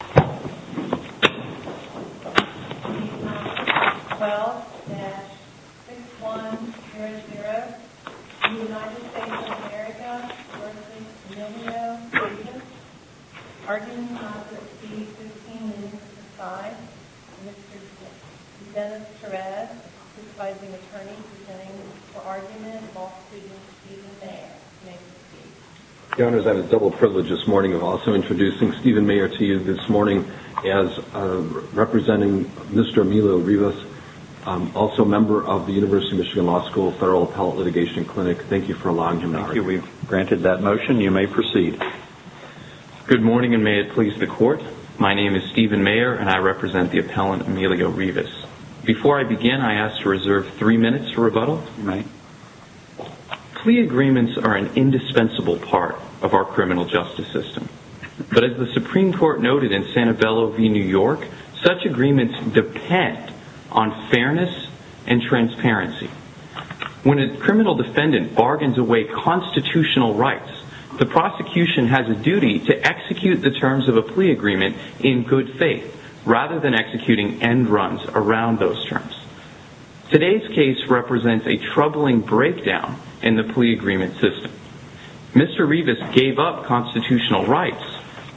Argument in Congress, S. 1565, Mr. Dennis Perez, a criticizing attorney, presenting the argument involving Stephen Mayer. May I proceed? Your Honor, I have the double privilege this morning of also introducing Stephen Mayer to you this morning as representing Mr. Emilio Rivas, also a member of the University of Michigan Law School Federal Appellate Litigation Clinic. Thank you for allowing him to speak. Thank you. We've granted that motion. You may proceed. Good morning, and may it please the Court. My name is Stephen Mayer, and I represent the appellant Emilio Rivas. Before I begin, I ask to reserve three minutes for rebuttal. Plea agreements are an indispensable part of our criminal justice system, but as the Supreme Court noted in Santabello v. New York, such agreements depend on fairness and transparency. When a criminal defendant bargains away constitutional rights, the prosecution has a duty to execute the terms of a plea agreement in good faith, rather than executing end runs around those Today's case represents a troubling breakdown in the plea agreement system. Mr. Rivas gave up constitutional rights,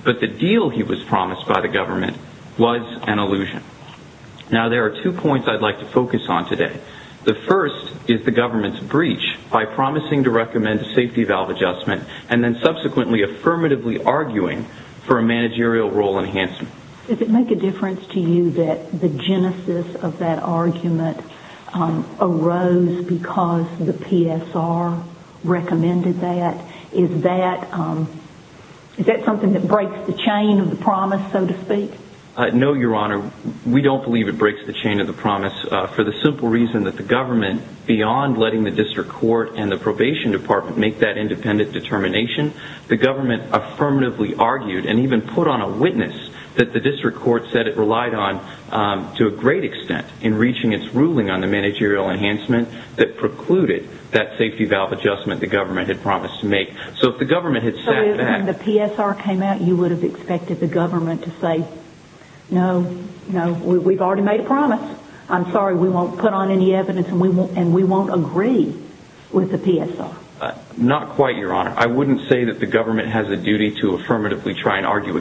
but the deal he was promised by the government was an illusion. Now, there are two points I'd like to focus on today. The first is the government's breach by promising to recommend a safety valve adjustment, and then subsequently affirmatively arguing for a managerial role enhancement. Does it make a difference to you that the genesis of that argument arose because the PSR recommended that? Is that something that breaks the chain of the promise, so to speak? No, Your Honor. We don't believe it breaks the chain of the promise for the simple reason that the government, beyond letting the district court and the probation department make that the district court said it relied on to a great extent in reaching its ruling on the managerial enhancement that precluded that safety valve adjustment the government had promised to make. So if the government had said that... So when the PSR came out, you would have expected the government to say, no, no, we've already made a promise. I'm sorry, we won't put on any evidence and we won't agree with the PSR. Not quite, Your Honor. I wouldn't say that the government has a duty to affirmatively try and after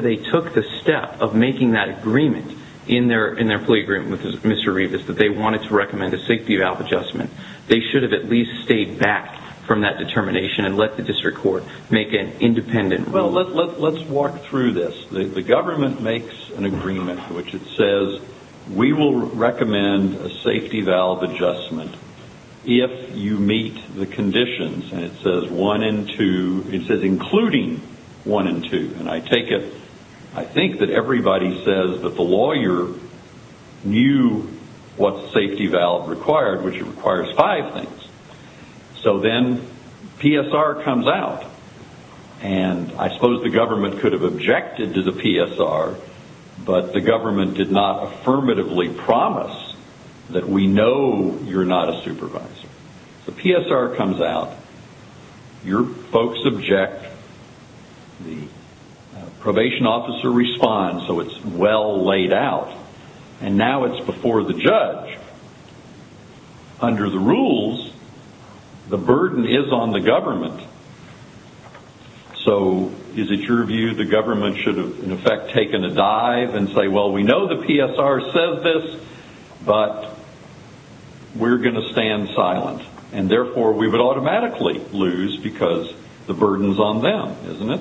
they took the step of making that agreement in their plea agreement with Mr. Rebus that they wanted to recommend a safety valve adjustment, they should have at least stayed back from that determination and let the district court make an independent ruling. Well, let's walk through this. The government makes an agreement in which it says, we will recommend a safety valve adjustment if you meet the conditions. And it says one and two, it says including one and two. And I take it, I think that everybody says that the lawyer knew what safety valve required, which requires five things. So then PSR comes out. And I suppose the government could have objected to the PSR, but the government did not affirmatively promise that we know you're not a supervisor. So PSR comes out. Your folks object. The probation officer responds, so it's well laid out. And now it's before the judge. Under the rules, the burden is on the government. So is it your view the government should have in effect taken a dive and say, well, we know the PSR says this, but we're going to stand silent, and therefore we would automatically lose because the burden is on them, isn't it?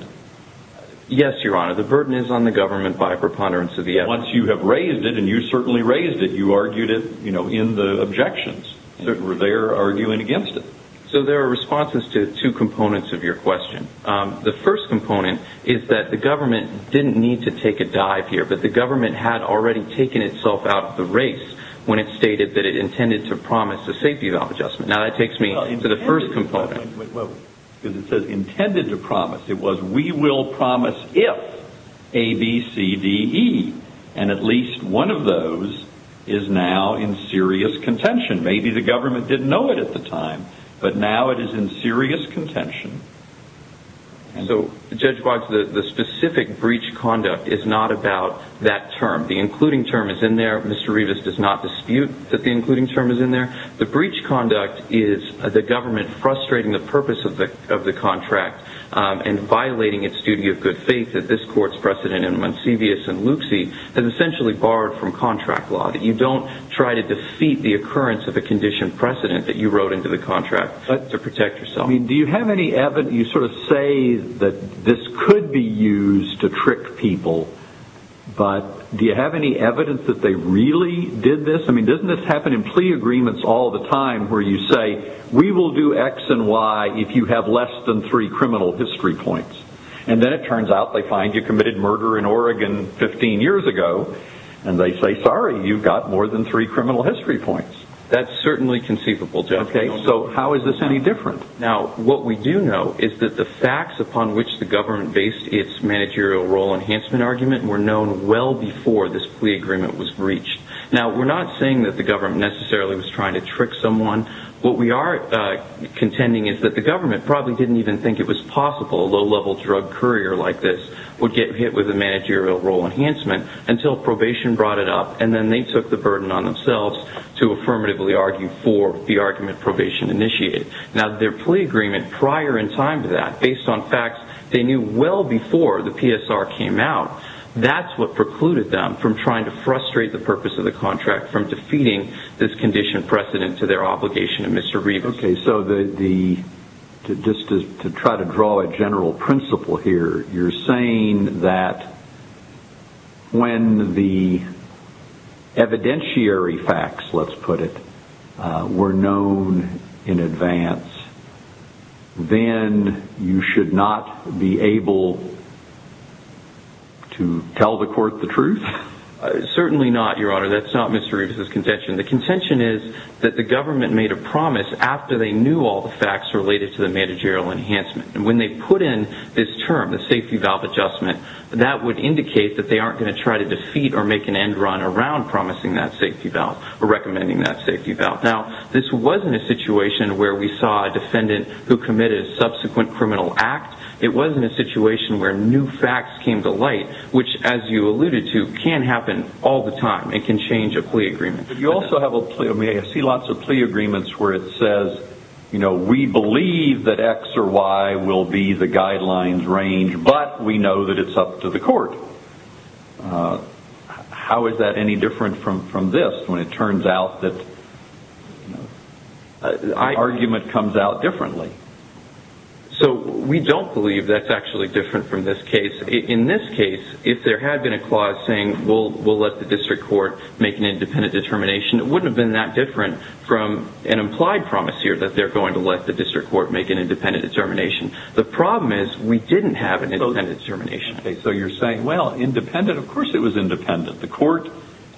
Yes, Your Honor, the burden is on the government by a preponderance of the evidence. Once you have raised it, and you certainly raised it, you argued it in the objections. They're arguing against it. So there are responses to two components of your question. The first component is that the government didn't need to take a dive here, but the government had already taken itself out of the race when it stated that it intended to promise a safety valve adjustment. Now that takes me to the first component. Because it says intended to promise. It was we will promise if A, B, C, D, E. And at least one of those is now in serious contention. Maybe the government didn't know it at the time, but now it is in serious contention. So, Judge Boggs, the specific breach conduct is not about that term. The including term is in there. Mr. Rivas does not dispute that the including term is in there. The breach conduct is the government frustrating the purpose of the contract and violating its duty of good faith that this court's precedent in Monsevius and Lucci has essentially borrowed from contract law, that you don't try to defeat the occurrence of a condition precedent that you wrote into the contract to protect yourself. Do you have any evidence? You sort of say that this could be used to trick people, but do you have any evidence that they really did this? I mean, doesn't this happen in plea agreements all the time where you say, we will do X and Y if you have less than three criminal history points? And then it turns out they find you committed murder in Oregon 15 years ago, and they say, sorry, you've got more than three criminal history points. That's certainly conceivable, Judge. Okay, so how is this any different? Now, what we do know is that the facts upon which the government based its managerial role enhancement argument were known well before this plea agreement was breached. Now, we're not saying that the government necessarily was trying to trick someone. What we are contending is that the government probably didn't even think it was possible a low-level drug courier like this would get hit with a managerial role enhancement until probation brought it up, and then they took the burden on themselves to affirmatively argue for the argument probation initiated. Now, their plea agreement prior in time to that, based on facts they knew well before the PSR came out, that's what precluded them from trying to frustrate the purpose of the contract, from defeating this condition precedent to their obligation to Mr. Rivas. Okay, so just to try to draw a general principle here, you're saying that when the evidentiary facts, let's put it, were known in advance, then you should not be able to tell the court the truth? Certainly not, Your Honor. That's not Mr. Rivas' contention. The contention is that the government made a promise after they knew all the facts related to the managerial enhancement. And when they put in this term, the safety valve adjustment, that would indicate that they aren't going to try to defeat or make an end run around promising that safety valve or recommending that safety valve. Now, this wasn't a situation where we saw a defendant who committed a subsequent criminal act. It wasn't a situation where new facts came to light, which, as you alluded to, can happen all the time and can change a plea agreement. I see lots of plea agreements where it says, we believe that X or Y will be the guidelines range, but we know that it's up to the court. How is that any different from this when it turns out that the argument comes out differently? We don't believe that's actually different from this case. In this case, if there had been a clause saying, we'll let the district court make an independent determination, it wouldn't have been that different from an implied promise here that they're going to let the district court make an independent determination. The problem is we didn't have an independent determination. So you're saying, well, independent, of course it was independent. The court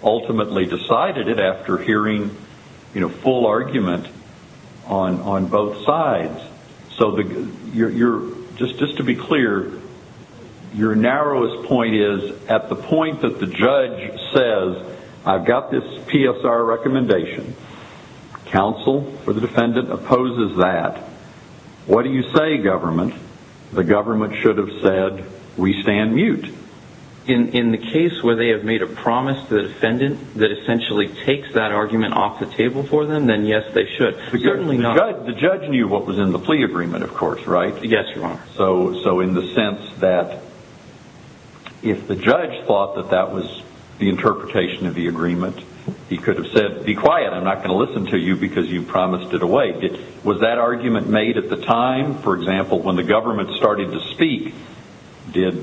ultimately decided it after hearing full argument on both sides. Just to be clear, your narrowest point is at the point that the judge says, I've got this PSR recommendation, counsel or the defendant opposes that, what do you say, government? The government should have said, we stand mute. In the case where they have made a promise to the defendant that essentially takes that argument off the table for them, then yes, they should. Certainly not. The judge knew what was in the plea agreement, of course, right? Yes, Your Honor. So in the sense that if the judge thought that that was the interpretation of the agreement, he could have said, be quiet, I'm not going to listen to you because you promised it away. Was that argument made at the time, for example, when the government started to speak? Did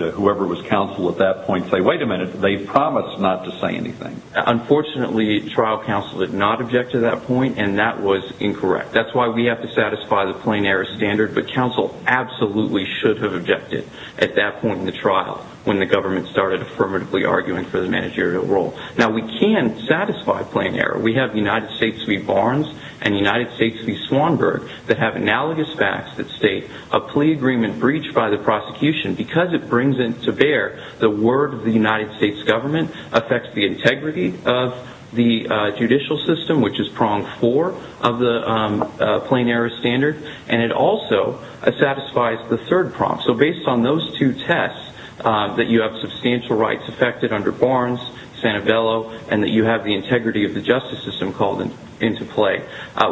whoever was counsel at that point say, wait a minute, they promised not to say anything? Unfortunately, trial counsel did not object to that point, and that was incorrect. That's why we have to satisfy the plain error standard, but counsel absolutely should have objected at that point in the trial when the government started affirmatively arguing for the managerial role. Now, we can satisfy plain error. We have United States v. Barnes and United States v. Swanberg that have analogous facts that state a plea agreement breached by the prosecution because it brings into bear the word of the United States government, affects the integrity of the judicial system, which is prong four of the plain error standard, and it also satisfies the third prong. So based on those two tests, that you have substantial rights affected under Barnes, Sanabello, and that you have the integrity of the justice system called into play,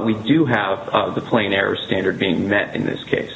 we do have the plain error standard being met in this case.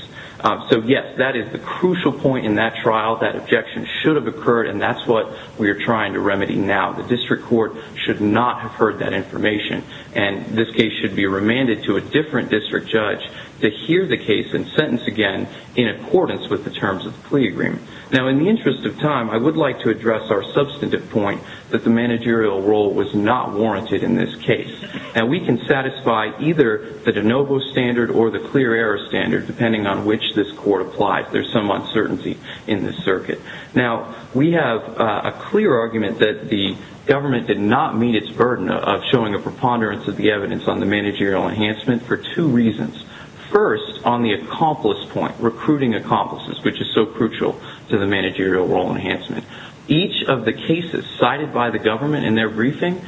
So, yes, that is the crucial point in that trial. That objection should have occurred, and that's what we are trying to remedy now. The district court should not have heard that information, and this case should be remanded to a different district judge to hear the case and sentence again in accordance with the terms of the plea agreement. Now, in the interest of time, I would like to address our substantive point that the managerial role was not warranted in this case. Now, we can satisfy either the de novo standard or the clear error standard, depending on which this court applies. There's some uncertainty in this circuit. Now, we have a clear argument that the government did not meet its burden of showing a preponderance of the evidence on the managerial enhancement for two reasons. First, on the accomplice point, recruiting accomplices, which is so crucial to the managerial role enhancement. Each of the cases cited by the government in their briefing,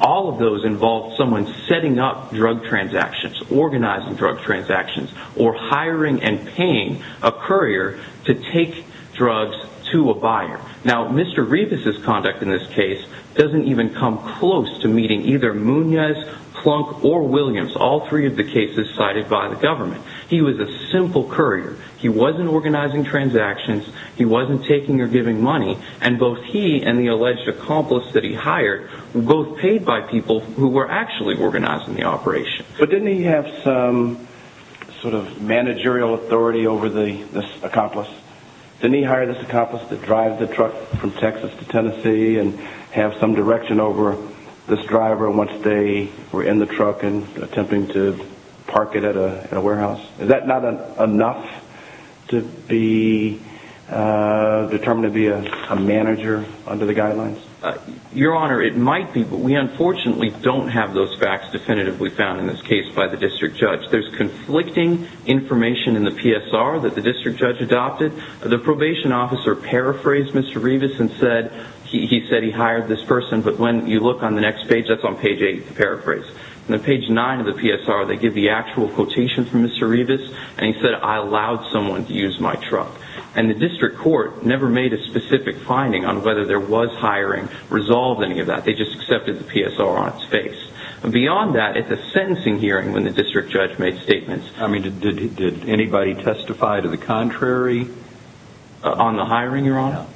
all of those involved someone setting up drug transactions, organizing drug transactions, or hiring and paying a courier to take drugs to a buyer. Now, Mr. Rivas' conduct in this case doesn't even come close to meeting either Munoz, Plunk, or Williams, all three of the cases cited by the government. He was a simple courier. He wasn't organizing transactions. He wasn't taking or giving money, and both he and the alleged accomplice that he hired were both paid by people who were actually organizing the operation. But didn't he have some sort of managerial authority over this accomplice? Didn't he hire this accomplice to drive the truck from Texas to Tennessee and have some direction over this driver once they were in the truck and attempting to park it at a warehouse? Is that not enough to be determined to be a manager under the guidelines? Your Honor, it might be, but we unfortunately don't have those facts definitively found in this case by the district judge. There's conflicting information in the PSR that the district judge adopted. The probation officer paraphrased Mr. Rivas and said he said he hired this person, but when you look on the next page, that's on page 8, paraphrase. On page 9 of the PSR, they give the actual quotation from Mr. Rivas, and he said, I allowed someone to use my truck. And the district court never made a specific finding on whether there was hiring resolved any of that. They just accepted the PSR on its face. Beyond that, at the sentencing hearing when the district judge made statements, I mean, did anybody testify to the contrary on the hiring, Your Honor?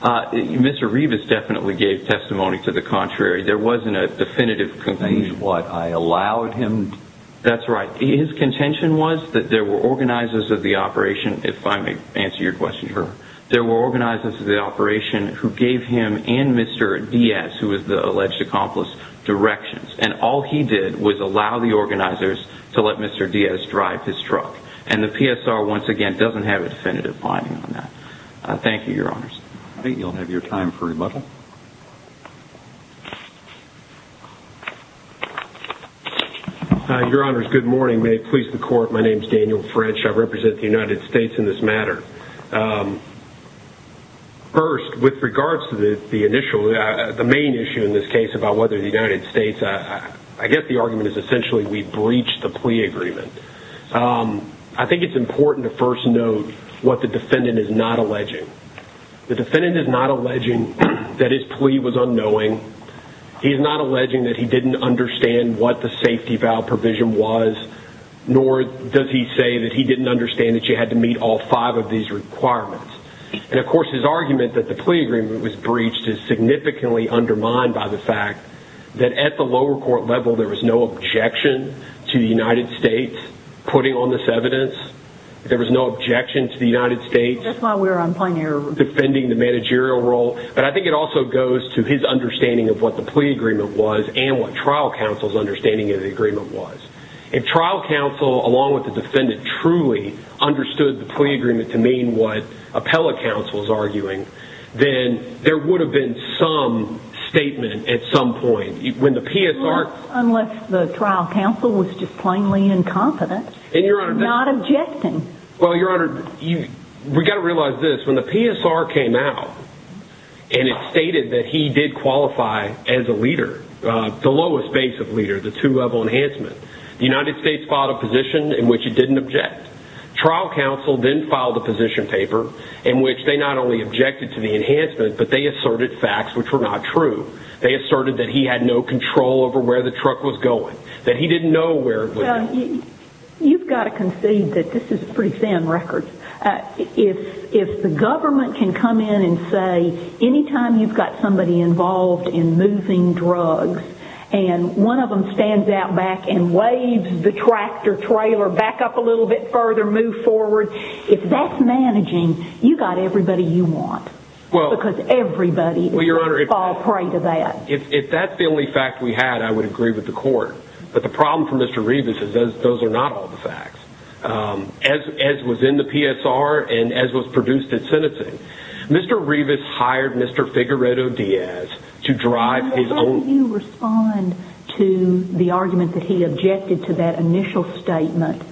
Mr. Rivas definitely gave testimony to the contrary. There wasn't a definitive conclusion. He's what, I allowed him? That's right. His contention was that there were organizers of the operation, if I may answer your question, sir, there were organizers of the operation who gave him and Mr. Diaz, who was the alleged accomplice, directions. And all he did was allow the organizers to let Mr. Diaz drive his truck. And the PSR, once again, doesn't have a definitive finding on that. Thank you, Your Honors. I think you'll have your time for rebuttal. Your Honors, good morning. May it please the Court, my name is Daniel French. I represent the United States in this matter. First, with regards to the main issue in this case about whether the United States, I guess the argument is essentially we breached the plea agreement. I think it's important to first note what the defendant is not alleging. The defendant is not alleging that his plea was unknowing. He is not alleging that he didn't understand what the safety valve provision was, nor does he say that he didn't understand that you had to meet all five of these requirements. And, of course, his argument that the plea agreement was breached is significantly undermined by the fact that at the lower court level, there was no objection to the United States putting on this evidence. There was no objection to the United States. That's why we're on plain error. Defending the managerial role. But I think it also goes to his understanding of what the plea agreement was and what trial counsel's understanding of the agreement was. If trial counsel, along with the defendant, truly understood the plea agreement to mean what appellate counsel is arguing, then there would have been some statement at some point. Unless the trial counsel was just plainly incompetent and not objecting. Well, Your Honor, we've got to realize this. When the PSR came out and it stated that he did qualify as a leader, the lowest base of leader, the two-level enhancement, the United States filed a position in which it didn't object. Trial counsel then filed a position paper in which they not only objected to the enhancement, but they asserted facts which were not true. They asserted that he had no control over where the truck was going, that he didn't know where it was going. You've got to concede that this is pretty thin record. If the government can come in and say, anytime you've got somebody involved in moving drugs and one of them stands out back and waves the tractor trailer back up a little bit further, move forward, if that's managing, you've got everybody you want. Because everybody is going to fall prey to that. If that's the only fact we had, I would agree with the court. But the problem for Mr. Revis is those are not all the facts. As was in the PSR and as was produced at sentencing, Mr. Revis hired Mr. Figueredo Diaz to drive his own- How do you respond to the argument that he objected to that initial statement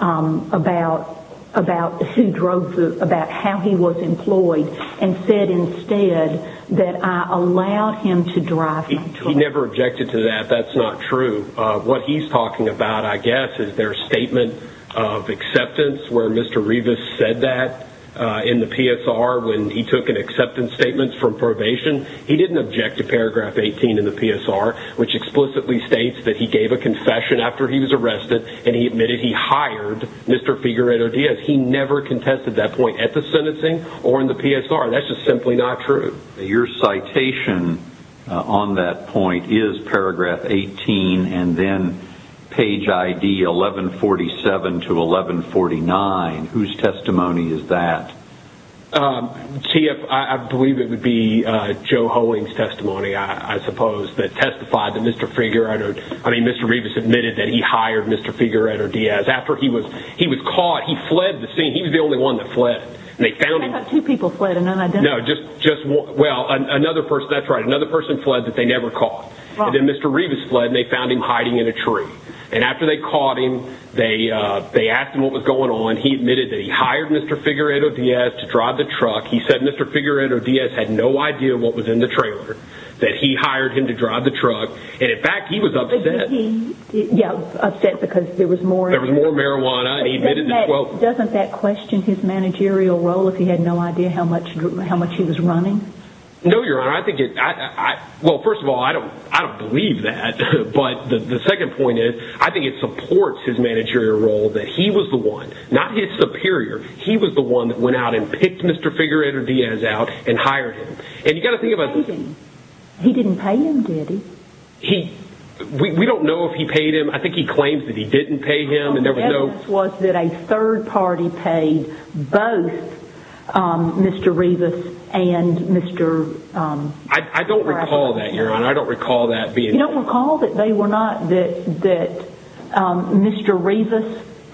about how he was employed and said instead that I allowed him to drive my truck? He never objected to that. That's not true. What he's talking about, I guess, is their statement of acceptance, where Mr. Revis said that in the PSR when he took an acceptance statement from probation. He didn't object to paragraph 18 in the PSR, which explicitly states that he gave a confession after he was arrested and he admitted he hired Mr. Figueredo Diaz. He never contested that point at the sentencing or in the PSR. That's just simply not true. Your citation on that point is paragraph 18 and then page ID 1147 to 1149. Whose testimony is that? Chief, I believe it would be Joe Hoeing's testimony, I suppose, that testified that Mr. Figueredo- I mean, Mr. Revis admitted that he hired Mr. Figueredo Diaz after he was caught. He fled the scene. He was the only one that fled. I thought two people fled and then I don't- No, just one- well, another person- that's right, another person fled that they never caught. And then Mr. Revis fled and they found him hiding in a tree. And after they caught him, they asked him what was going on. He admitted that he hired Mr. Figueredo Diaz to drive the truck. He said Mr. Figueredo Diaz had no idea what was in the trailer, that he hired him to drive the truck. And, in fact, he was upset. Yeah, upset because there was more- There was more marijuana. Doesn't that question his managerial role if he had no idea how much he was running? No, Your Honor, I think it- well, first of all, I don't believe that. But the second point is, I think it supports his managerial role that he was the one, not his superior, he was the one that went out and picked Mr. Figueredo Diaz out and hired him. And you've got to think about- He didn't pay him, did he? We don't know if he paid him. I think he claims that he didn't pay him and there was no- The evidence was that a third party paid both Mr. Rivas and Mr.- I don't recall that, Your Honor. I don't recall that being- You don't recall that they were not- that Mr. Rivas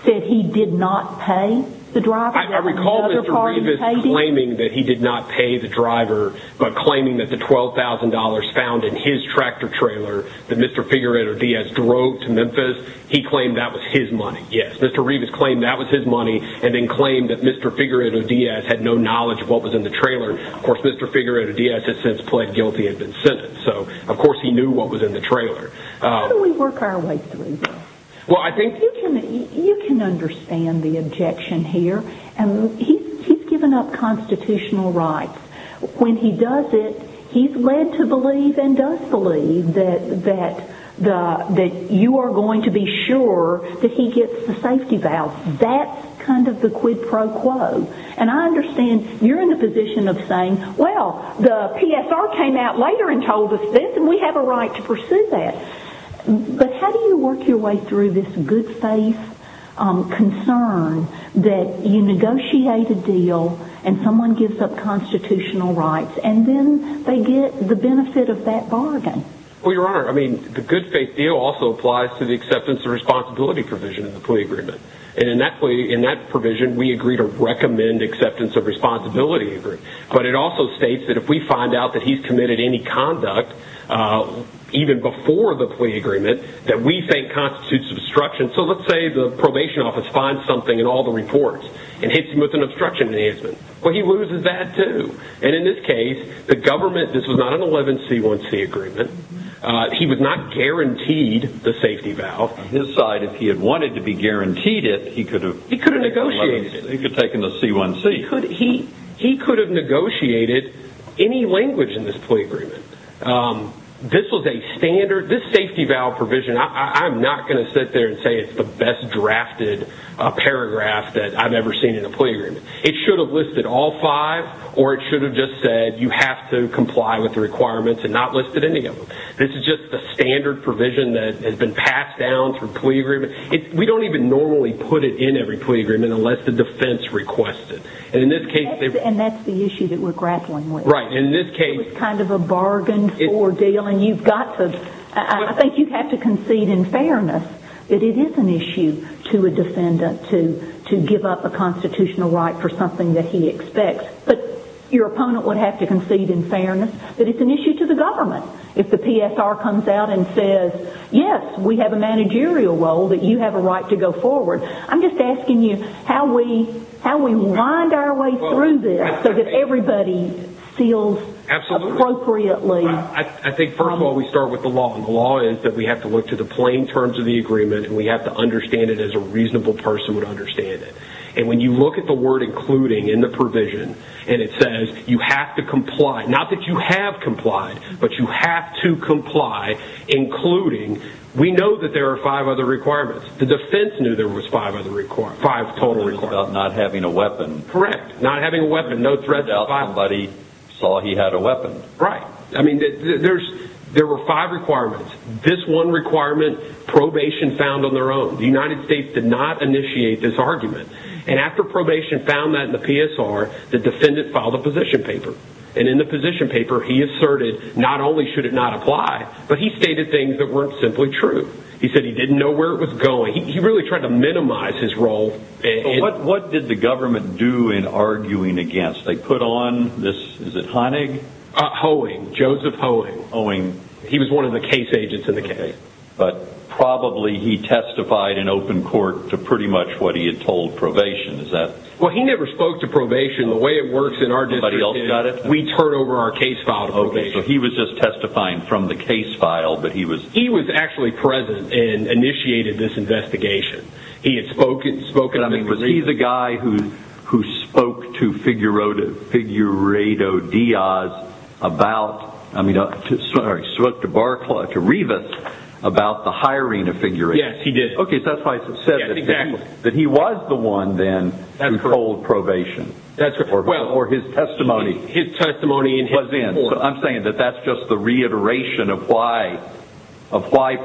said he did not pay the driver? I recall Mr. Rivas claiming that he did not pay the driver, but claiming that the $12,000 found in his tractor trailer that Mr. Figueredo Diaz drove to Memphis, he claimed that was his money, yes. Mr. Rivas claimed that was his money and then claimed that Mr. Figueredo Diaz had no knowledge of what was in the trailer. Of course, Mr. Figueredo Diaz has since pled guilty and been sentenced. So, of course, he knew what was in the trailer. How do we work our way through this? Well, I think- You can understand the objection here. He's given up constitutional rights. When he does it, he's led to believe and does believe that you are going to be sure that he gets the safety vows. That's kind of the quid pro quo. And I understand you're in the position of saying, well, the PSR came out later and told us this and we have a right to pursue that. But how do you work your way through this good faith concern that you negotiate a deal and someone gives up constitutional rights and then they get the benefit of that bargain? Well, Your Honor, I mean, the good faith deal also applies to the acceptance of responsibility provision of the plea agreement. And in that provision, we agree to recommend acceptance of responsibility agreement. But it also states that if we find out that he's committed any conduct, even before the plea agreement, that we think constitutes obstruction. So let's say the probation office finds something in all the reports and hits him with an obstruction enhancement. Well, he loses that too. And in this case, the government-this was not an 11C1C agreement. He was not guaranteed the safety vow. On his side, if he had wanted to be guaranteed it, he could have- He could have negotiated it. He could have taken the C1C. He could have negotiated any language in this plea agreement. This was a standard-this safety vow provision, I'm not going to sit there and say it's the best drafted paragraph that I've ever seen in a plea agreement. It should have listed all five or it should have just said you have to comply with the requirements and not listed any of them. This is just the standard provision that has been passed down through plea agreements. We don't even normally put it in every plea agreement unless the defense requests it. And in this case- And that's the issue that we're grappling with. Right. In this case- It was kind of a bargain for deal and you've got to-I think you have to concede in fairness that it is an issue to a defendant to give up a constitutional right for something that he expects. But your opponent would have to concede in fairness that it's an issue to the government if the PSR comes out and says, yes, we have a managerial role that you have a right to go forward. I'm just asking you how we wind our way through this so that everybody feels appropriately. I think, first of all, we start with the law. And the law is that we have to look to the plain terms of the agreement and we have to understand it as a reasonable person would understand it. And when you look at the word including in the provision and it says you have to comply, not that you have complied, but you have to comply including, we know that there are five other requirements. The defense knew there was five other requirements. Five total requirements. It's about not having a weapon. Correct. Not having a weapon. No threat. Somebody saw he had a weapon. Right. I mean, there were five requirements. This one requirement, probation found on their own. The United States did not initiate this argument. And after probation found that in the PSR, the defendant filed a position paper. And in the position paper, he asserted not only should it not apply, but he stated things that weren't simply true. He said he didn't know where it was going. He really tried to minimize his role. What did the government do in arguing against? They put on this, is it Honig? Hoeing. Joseph Hoeing. Hoeing. He was one of the case agents in the case. But probably he testified in open court to pretty much what he had told probation. Well, he never spoke to probation. The way it works in our district is we turn over our case file to probation. So he was just testifying from the case file. He was actually present and initiated this investigation. He had spoken. I mean, was he the guy who spoke to Figurado Diaz about, I mean, sorry, spoke to Revis about the hiring of Figurado? Yes, he did. Okay, so that's why it says that he was the one, then, who told probation. That's correct. Or his testimony was in. I'm saying that that's just the reiteration of why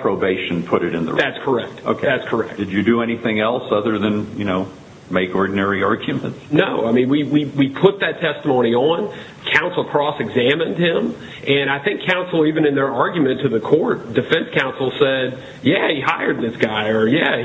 probation put it in the record. That's correct. Okay. That's correct. Did you do anything else other than, you know, make ordinary arguments? No. I mean, we put that testimony on. Counsel Cross examined him. And I think counsel, even in their argument to the court, defense counsel, said, yeah, he hired this guy or, yeah,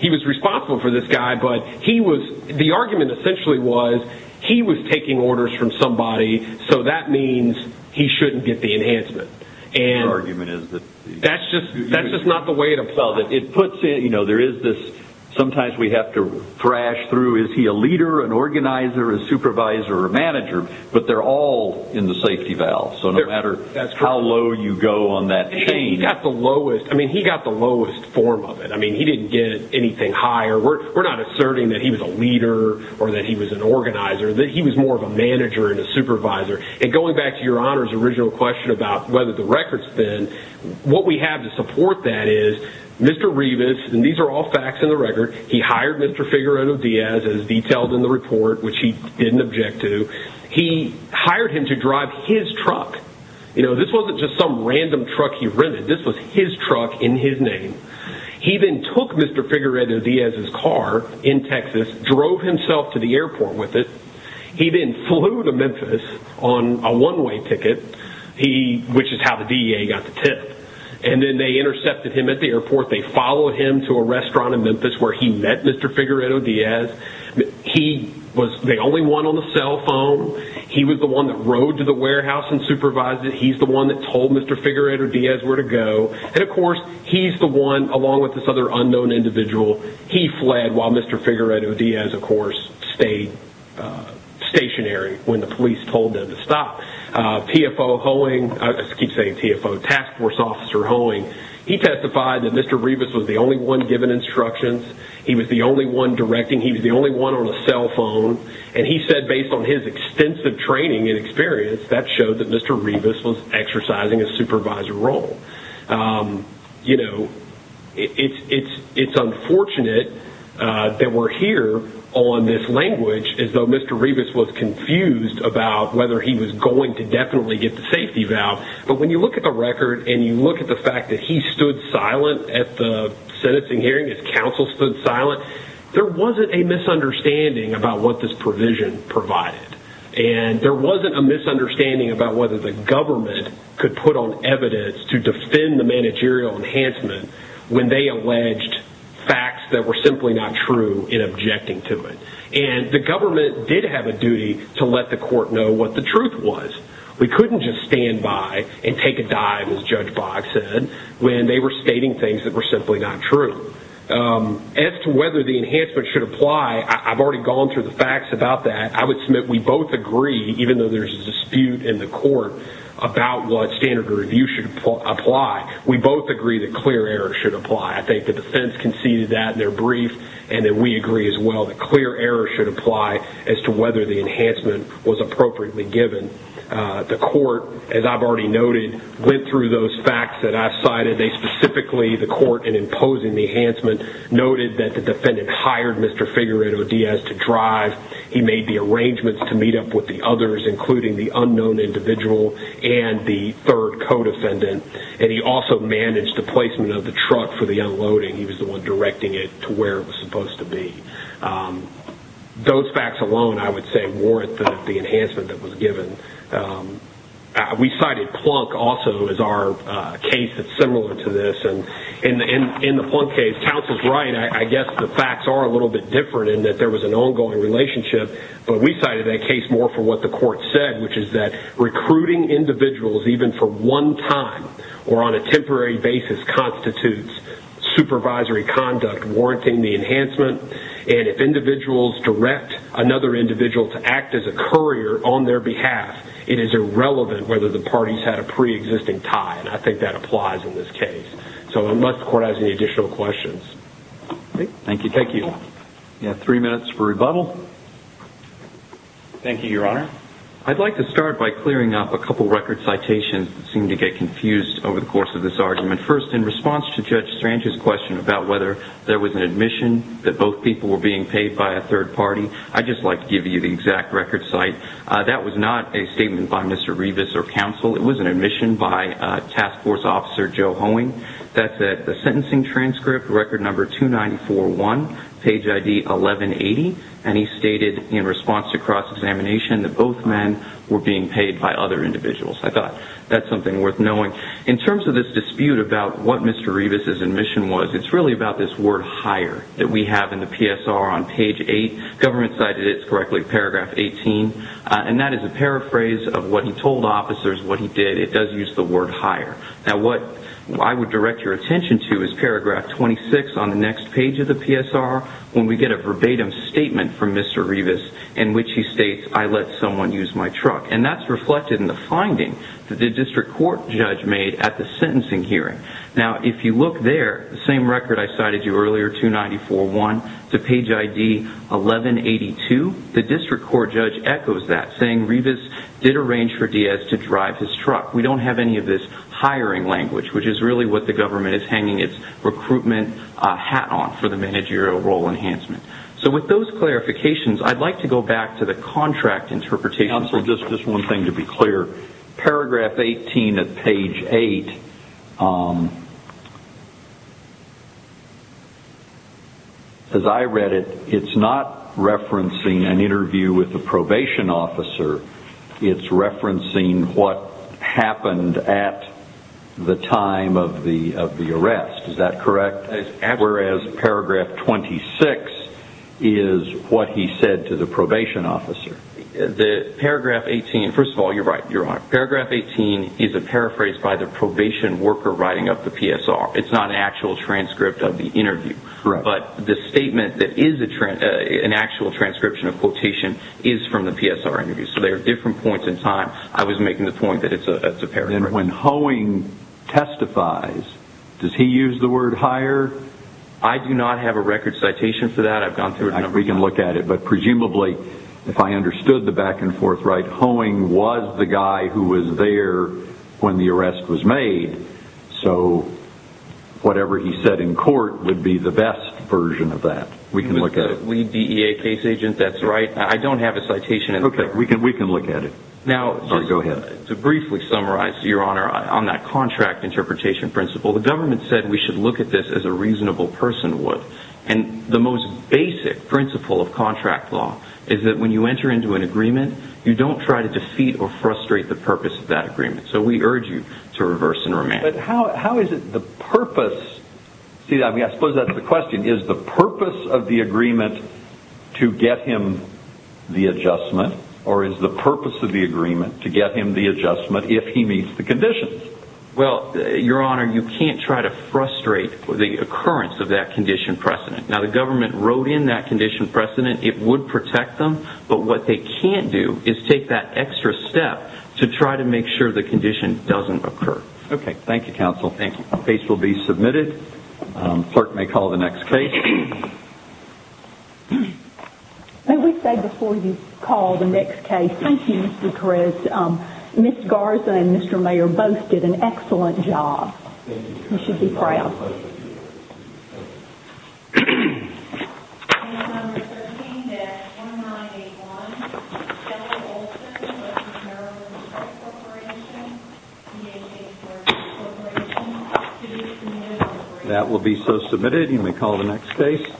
he was responsible for this guy. But the argument essentially was he was taking orders from somebody, so that means he shouldn't get the enhancement. And that's just not the way to solve it. It puts it, you know, there is this, sometimes we have to thrash through, is he a leader, an organizer, a supervisor, or a manager? But they're all in the safety valve. So no matter how low you go on that chain. He got the lowest. I mean, he got the lowest form of it. I mean, he didn't get anything higher. We're not asserting that he was a leader or that he was an organizer. He was more of a manager and a supervisor. And going back to your Honor's original question about whether the record's thin, what we have to support that is Mr. Revis, and these are all facts in the record, he hired Mr. Figueredo Diaz as detailed in the report, which he didn't object to. He hired him to drive his truck. You know, this wasn't just some random truck he rented. This was his truck in his name. He then took Mr. Figueredo Diaz's car in Texas, drove himself to the airport with it. He then flew to Memphis on a one-way ticket, which is how the DEA got the tip. And then they intercepted him at the airport. They followed him to a restaurant in Memphis where he met Mr. Figueredo Diaz. He was the only one on the cell phone. He was the one that rode to the warehouse and supervised it. He's the one that told Mr. Figueredo Diaz where to go. And, of course, he's the one, along with this other unknown individual, he fled while Mr. Figueredo Diaz, of course, stayed stationary when the police told him to stop. TFO Hoeing, I keep saying TFO, Task Force Officer Hoeing, he testified that Mr. Rivas was the only one given instructions. He was the only one directing. He was the only one on the cell phone. And he said, based on his extensive training and experience, that showed that Mr. Rivas was exercising a supervisor role. You know, it's unfortunate that we're here on this language as though Mr. Rivas was confused about whether he was going to definitely get the safety valve. But when you look at the record and you look at the fact that he stood silent at the sentencing hearing, his counsel stood silent, there wasn't a misunderstanding about what this provision provided. And there wasn't a misunderstanding about whether the government could put on or defend the managerial enhancement when they alleged facts that were simply not true in objecting to it. And the government did have a duty to let the court know what the truth was. We couldn't just stand by and take a dive, as Judge Boggs said, when they were stating things that were simply not true. As to whether the enhancement should apply, I've already gone through the facts about that. I would submit we both agree, even though there's a dispute in the court, about what standard of review should apply. We both agree that clear error should apply. I think the defense conceded that in their brief, and that we agree as well, that clear error should apply as to whether the enhancement was appropriately given. The court, as I've already noted, went through those facts that I've cited. They specifically, the court in imposing the enhancement, noted that the defendant hired Mr. Figueroa Diaz to drive. He made the arrangements to meet up with the others, including the unknown individual and the third co-defendant. And he also managed the placement of the truck for the unloading. He was the one directing it to where it was supposed to be. Those facts alone, I would say, warrant the enhancement that was given. We cited Plunk also as our case that's similar to this. In the Plunk case, counsel's right. I guess the facts are a little bit different in that there was an ongoing relationship. But we cited that case more for what the court said, which is that recruiting individuals even for one time or on a temporary basis constitutes supervisory conduct warranting the enhancement. And if individuals direct another individual to act as a courier on their behalf, it is irrelevant whether the parties had a pre-existing tie. And I think that applies in this case. So unless the court has any additional questions. Thank you. Thank you. We have three minutes for rebuttal. Thank you, Your Honor. I'd like to start by clearing up a couple record citations that seem to get confused over the course of this argument. First, in response to Judge Strange's question about whether there was an admission that both people were being paid by a third party, I'd just like to give you the exact record cite. That was not a statement by Mr. Revis or counsel. It was an admission by Task Force Officer Joe Hoeing. That's at the sentencing transcript, record number 2941, page ID 1180. And he stated in response to cross-examination that both men were being paid by other individuals. I thought that's something worth knowing. In terms of this dispute about what Mr. Revis' admission was, it's really about this word hire that we have in the PSR on page 8. Government cited it correctly, paragraph 18. And that is a paraphrase of what he told officers what he did. It does use the word hire. Now, what I would direct your attention to is paragraph 26 on the next page of the PSR when we get a verbatim statement from Mr. Revis in which he states, I let someone use my truck. And that's reflected in the finding that the district court judge made at the sentencing hearing. Now, if you look there, the same record I cited you earlier, 2941, to page ID 1182, the district court judge echoes that, saying Revis did arrange for Diaz to drive his truck. We don't have any of this hiring language, which is really what the government is hanging its recruitment hat on for the managerial role enhancement. So with those clarifications, I'd like to go back to the contract interpretation. Counsel, just one thing to be clear. Paragraph 18 of page 8, as I read it, it's not referencing an interview with a probation officer. It's referencing what happened at the time of the arrest. Is that correct? Whereas paragraph 26 is what he said to the probation officer. Paragraph 18, first of all, you're right, Your Honor. Paragraph 18 is a paraphrase by the probation worker writing up the PSR. It's not an actual transcript of the interview. But the statement that is an actual transcription of quotation is from the PSR interview. So they are different points in time. I was making the point that it's a paraphrase. And when Hoeing testifies, does he use the word hire? I do not have a record citation for that. I've gone through it a number of times. We can look at it. But presumably, if I understood the back and forth right, Hoeing was the guy who was there when the arrest was made. So whatever he said in court would be the best version of that. With the lead DEA case agent, that's right. I don't have a citation. Okay. We can look at it. Go ahead. To briefly summarize, Your Honor, on that contract interpretation principle, the government said we should look at this as a reasonable person would. And the most basic principle of contract law is that when you enter into an agreement, you don't try to defeat or frustrate the purpose of that agreement. So we urge you to reverse and remand. But how is it the purpose? I suppose that's the question. Is the purpose of the agreement to get him the adjustment or is the purpose of the agreement to get him the adjustment if he meets the conditions? Well, Your Honor, you can't try to frustrate the occurrence of that condition precedent. Now, the government wrote in that condition precedent. It would protect them. But what they can't do is take that extra step to try to make sure the condition doesn't occur. Okay. Thank you, counsel. Thank you. The case will be submitted. Clerk may call the next case. May we say before you call the next case, thank you, Mr. Perez. Ms. Garza and Mr. Mayer both did an excellent job. You should be proud. Thank you. That will be so submitted. You may call the next case.